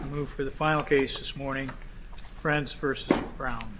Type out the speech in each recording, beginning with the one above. We'll move for the final case this morning, Frentz v. Brown.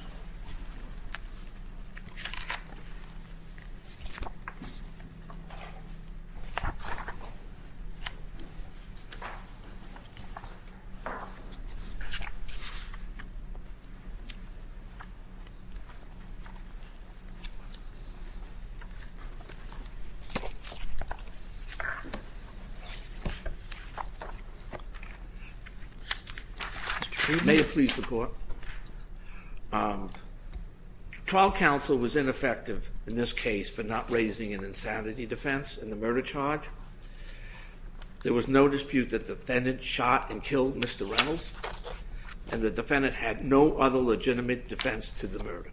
May it please the court. Trial counsel was ineffective in this case for not raising an insanity defense in the murder charge. There was no dispute that the defendant shot and killed Mr. Reynolds, and the defendant had no other legitimate defense to the murder.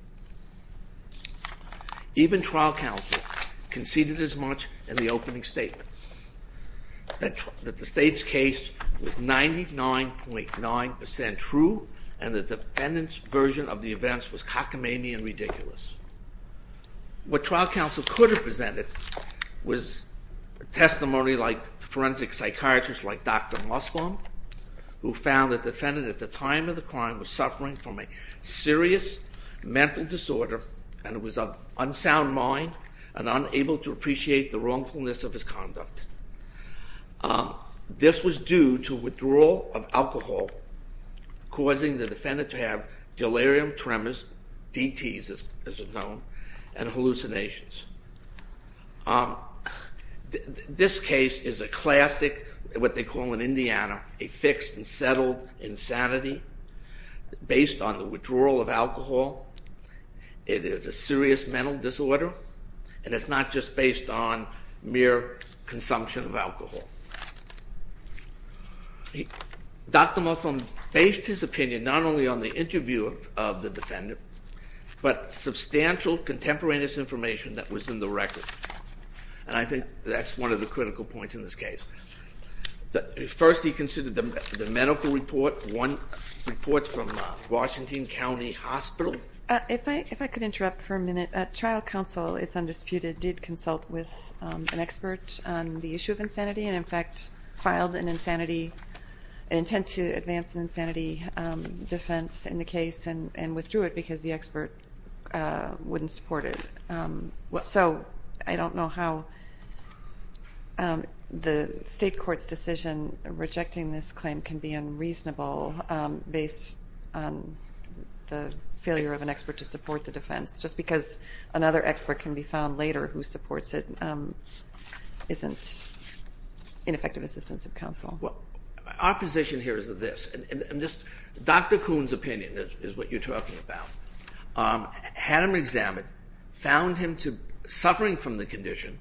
Even trial counsel conceded as much in the opening statement that the state's case was 99.9% true and the defendant's version of the events was cockamamie and ridiculous. What trial counsel could have presented was testimony like forensic psychiatrist like Dr. Mossbaum, who found the defendant at the time of the crime was suffering from a serious mental disorder and was of an unsound mind and unable to appreciate the wrongfulness of his conduct. This was due to withdrawal of alcohol, causing the defendant to have delirium tremors, DTs as they're known, and hallucinations. This case is a classic, what they call in Indiana, a fixed and settled insanity based on the withdrawal of alcohol. It is a serious mental disorder, and it's not just based on mere consumption of alcohol. Dr. Mossbaum based his opinion not only on the interview of the defendant, but substantial contemporaneous information that was in the record. And I think that's one of the critical points in this case. First, he considered the medical report, reports from Washington County Hospital. If I could interrupt for a minute. Trial counsel, it's undisputed, did consult with an expert on the issue of insanity and in fact filed an insanity, an intent to advance insanity defense in the case and withdrew it because the expert wouldn't support it. So I don't know how the state court's decision rejecting this claim can be unreasonable based on the failure of an expert to support the defense. Just because another expert can be found later who supports it isn't ineffective assistance of counsel. Well, our position here is this. Dr. Kuhn's opinion is what you're talking about. Had him examined, found him suffering from the condition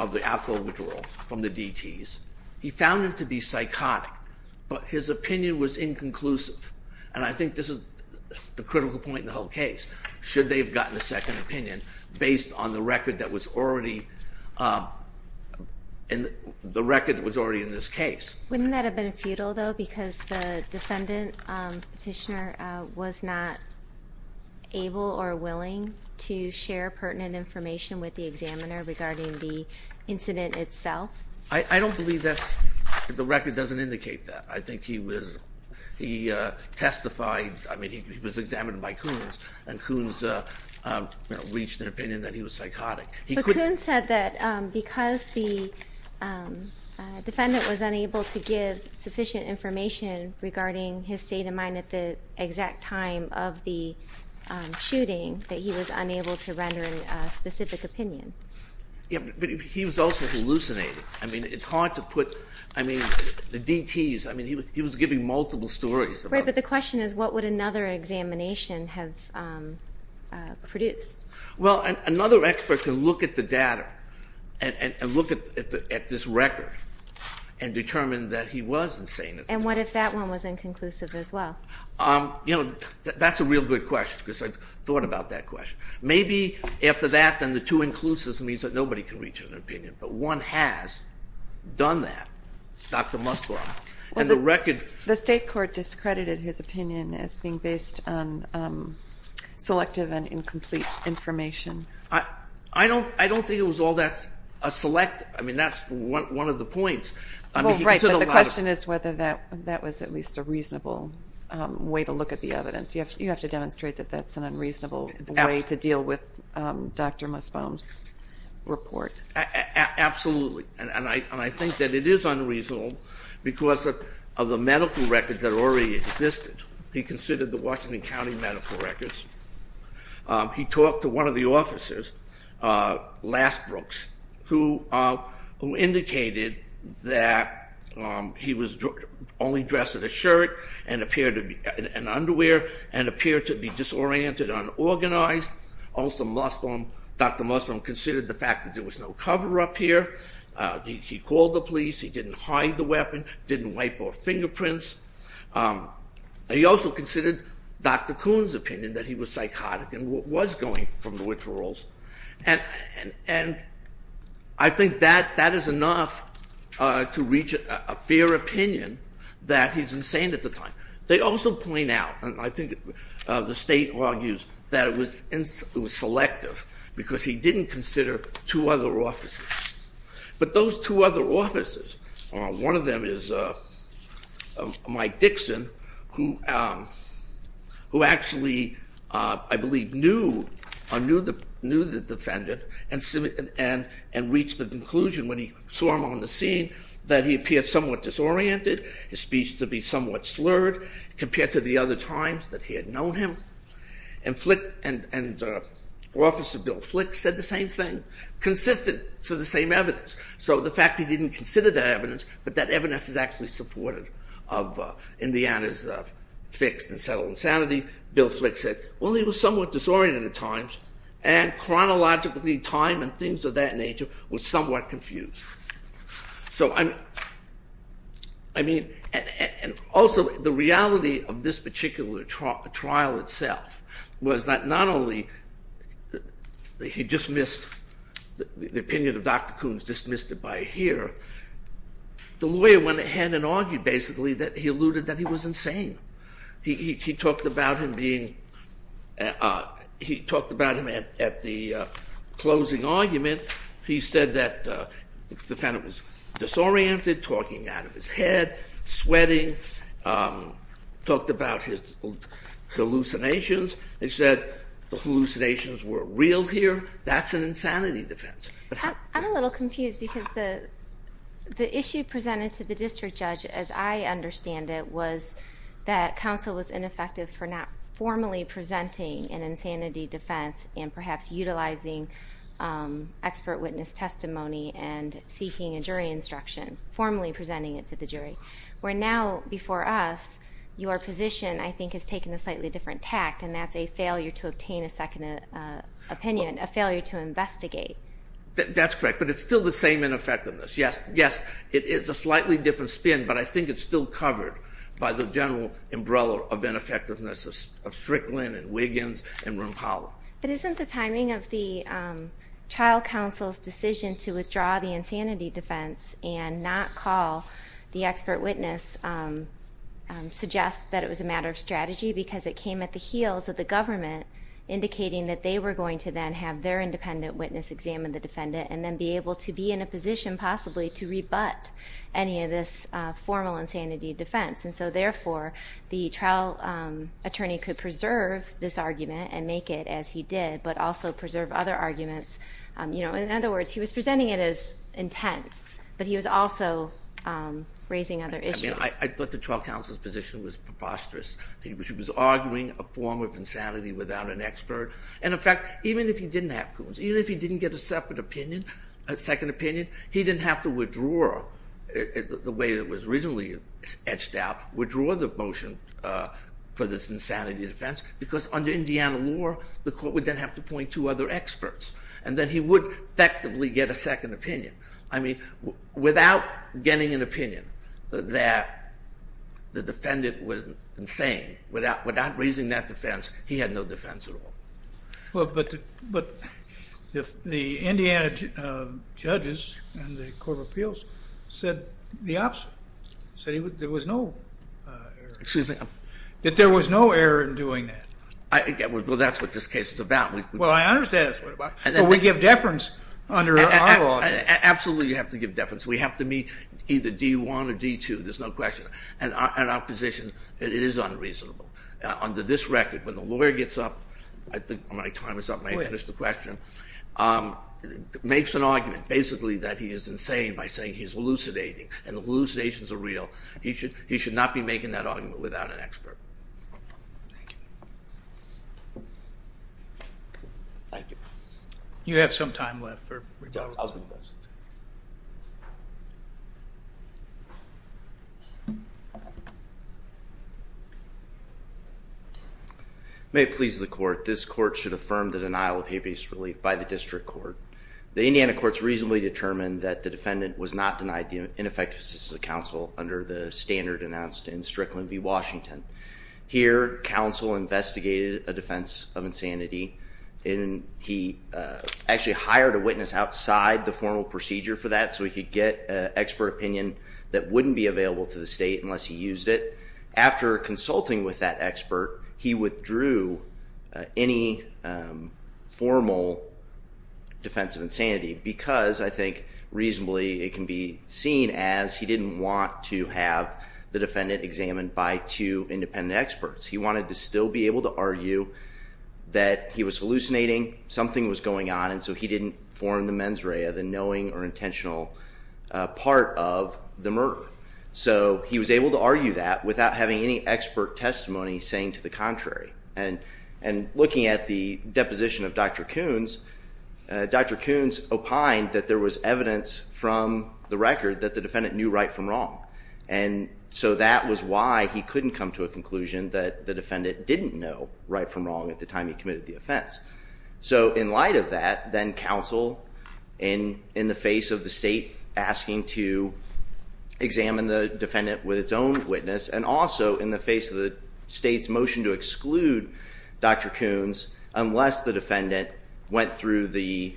of the alcohol withdrawal from the DTs. He found him to be psychotic, but his opinion was inconclusive. And I think this is the critical point in the whole case. Should they have gotten a second opinion based on the record that was already in this case? Wouldn't that have been futile though because the defendant, petitioner, was not able or willing to share pertinent information with the examiner regarding the incident itself? I don't believe that's, the record doesn't indicate that. I think he was, he testified, I mean he was examined by Kuhn's and Kuhn's reached an opinion that he was psychotic. But Kuhn said that because the defendant was unable to give sufficient information regarding his state of mind at the exact time of the shooting that he was unable to render a specific opinion. Yeah, but he was also hallucinating. I mean it's hard to put, I mean the DTs, I mean he was giving multiple stories. Right, but the question is what would another examination have produced? Well, another expert can look at the data and look at this record and determine that he was insane. And what if that one was inconclusive as well? You know, that's a real good question because I thought about that question. Maybe after that then the two inclusives means that nobody can reach an opinion. But one has done that, Dr. Musgrove. The state court discredited his opinion as being based on selective and incomplete information. I don't think it was all that select, I mean that's one of the points. Well, right, but the question is whether that was at least a reasonable way to look at the evidence. You have to demonstrate that that's an unreasonable way to deal with Dr. Musgrove's report. Absolutely, and I think that it is unreasonable because of the medical records that already existed. He considered the Washington County medical records. He talked to one of the officers, Lass Brooks, who indicated that he was only dressed in a shirt and underwear and appeared to be disoriented and unorganized. Also, Dr. Musgrove considered the fact that there was no cover up here. He called the police, he didn't hide the weapon, didn't wipe off fingerprints. He also considered Dr. Kuhn's opinion that he was psychotic and was going from the withdrawals. And I think that is enough to reach a fair opinion that he's insane at the time. They also point out, and I think the state argues, that it was selective because he didn't consider two other officers. But those two other officers, one of them is Mike Dixon, who actually, I believe, knew the defendant and reached the conclusion when he saw him on the scene that he appeared somewhat disoriented, his speech to be somewhat slurred compared to the other times that he had known him. And Officer Bill Flick said the same thing, consistent to the same evidence. So the fact that he didn't consider that evidence, but that evidence is actually supportive of Indiana's fixed and settled insanity. Bill Flick said, well, he was somewhat disoriented at times and chronologically time and things of that nature was somewhat confused. So I mean, and also the reality of this particular trial itself was that not only he dismissed, the opinion of Dr. Kuhn's dismissed it by here, the lawyer went ahead and argued basically that he alluded that he was insane. He talked about him being, he talked about him at the closing argument. He said that the defendant was disoriented, talking out of his head, sweating, talked about his hallucinations. He said the hallucinations were real here. That's an insanity defense. I'm a little confused because the issue presented to the district judge, as I understand it, was that counsel was ineffective for not formally presenting an insanity defense and perhaps utilizing expert witness testimony and seeking a jury instruction, formally presenting it to the jury. Where now, before us, your position I think has taken a slightly different tact and that's a failure to obtain a second opinion, a failure to investigate. That's correct, but it's still the same ineffectiveness. Yes, it is a slightly different spin, but I think it's still covered by the general umbrella of ineffectiveness of Strickland and Wiggins and Rumpala. But isn't the timing of the trial counsel's decision to withdraw the insanity defense and not call the expert witness suggests that it was a matter of strategy because it came at the heels of the government indicating that they were going to then have their independent witness examine the defendant and then be able to be in a position possibly to rebut any of this formal insanity defense. And so therefore, the trial attorney could preserve this argument and make it as he did, but also preserve other arguments. In other words, he was presenting it as intent, but he was also raising other issues. I thought the trial counsel's position was preposterous. He was arguing a form of insanity without an expert. And in fact, even if he didn't have, even if he didn't get a separate opinion, a second opinion, he didn't have to withdraw the way it was originally etched out, withdraw the motion for this insanity defense because under Indiana law, the court would then have to point to other experts. And then he would effectively get a second opinion. I mean, without getting an opinion that the defendant was insane, without raising that defense, he had no defense at all. Well, but the Indiana judges and the court of appeals said the opposite. They said there was no error. Excuse me? That there was no error in doing that. Well, that's what this case is about. Well, I understand that's what it's about. But we give deference under our law. Absolutely, you have to give deference. We have to meet either D1 or D2. There's no question. And in our position, it is unreasonable. Under this record, when the lawyer gets up, I think my time is up. May I finish the question? Go ahead. Makes an argument, basically, that he is insane by saying he's elucidating. And the elucidations are real. He should not be making that argument without an expert. Thank you. Thank you. You have some time left for rebuttal. I was going to go next. May it please the court. This court should affirm the denial of habeas relief by the district court. The Indiana courts reasonably determined that the defendant was not denied the ineffective assistance of counsel under the standard announced in Strickland v. Washington. Here, counsel investigated a defense of insanity. And he actually hired a witness outside the formal procedure for that so he could get expert opinion that wouldn't be available to the state unless he used it. After consulting with that expert, he withdrew any formal defense of insanity because I think reasonably it can be seen as he didn't want to have the defendant examined by two independent experts. He wanted to still be able to argue that he was hallucinating, something was going on, and so he didn't form the mens rea, the knowing or intentional part of the murder. So he was able to argue that without having any expert testimony saying to the contrary. And looking at the deposition of Dr. Coons, Dr. Coons opined that there was evidence from the record that the defendant knew right from wrong. And so that was why he couldn't come to a conclusion that the defendant didn't know right from wrong at the time he committed the offense. So in light of that, then counsel in the face of the state asking to examine the defendant with its own witness and also in the face of the state's motion to exclude Dr. Coons unless the defendant went through the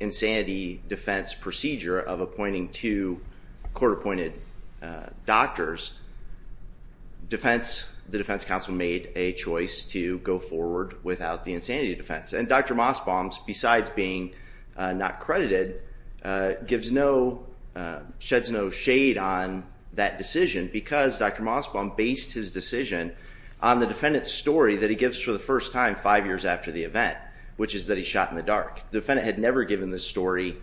insanity defense procedure of appointing two court-appointed doctors, the defense counsel made a choice to go forward without the insanity defense. And Dr. Mossbaum, besides being not credited, sheds no shade on that decision because Dr. Mossbaum based his decision on the defendant's story that he gives for the first time five years after the event, which is that he shot in the dark. The defendant had never given this story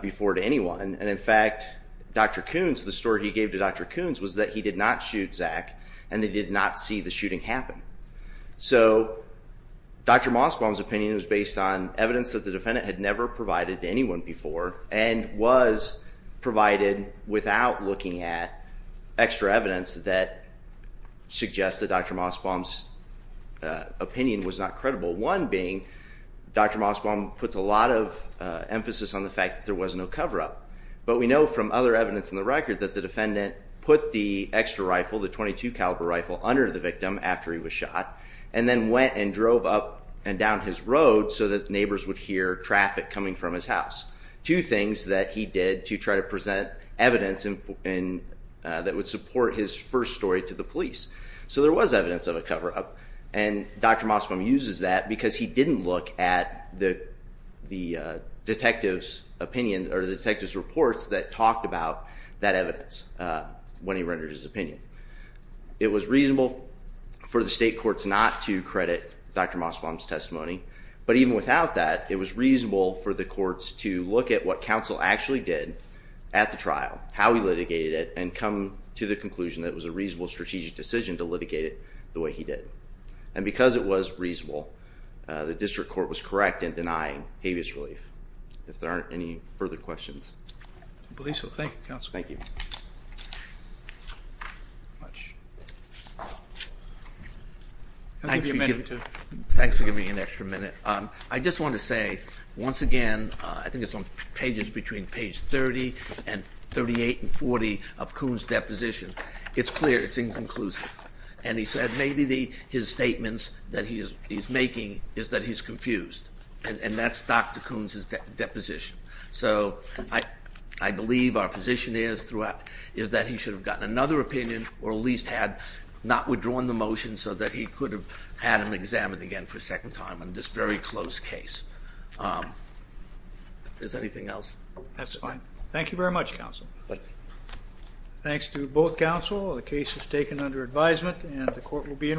before to anyone. And in fact, Dr. Coons, the story he gave to Dr. Coons was that he did not shoot Zach and they did not see the shooting happen. So Dr. Mossbaum's opinion was based on evidence that the defendant had never provided to anyone before and was provided without looking at extra evidence that suggests that Dr. Mossbaum's opinion was not credible. One being Dr. Mossbaum puts a lot of emphasis on the fact that there was no cover-up. But we know from other evidence in the record that the defendant put the extra rifle, the .22 caliber rifle, under the victim after he was shot and then went and drove up and down his road so that neighbors would hear traffic coming from his house, two things that he did to try to present evidence that would support his first story to the police. So there was evidence of a cover-up. And Dr. Mossbaum uses that because he didn't look at the detective's opinion or the detective's reports that talked about that evidence when he rendered his opinion. It was reasonable for the state courts not to credit Dr. Mossbaum's testimony. But even without that, it was reasonable for the courts to look at what counsel actually did at the trial, how he litigated it, and come to the conclusion that it was a reasonable strategic decision to litigate it the way he did. And because it was reasonable, the district court was correct in denying habeas relief. If there aren't any further questions. I believe so. Thank you, Counsel. Thank you. Thanks for giving me an extra minute. I just wanted to say, once again, I think it's on pages between page 30 and 38 and 40 of Coon's deposition. It's clear. It's inconclusive. And he said maybe his statements that he's making is that he's confused. And that's Dr. Coon's deposition. So I believe our position is that he should have gotten another opinion or at least had not withdrawn the motion so that he could have had it examined again for a second time on this very close case. If there's anything else. That's fine. Thank you very much, Counsel. Thanks to both counsel. The case is taken under advisement and the court will be in recess.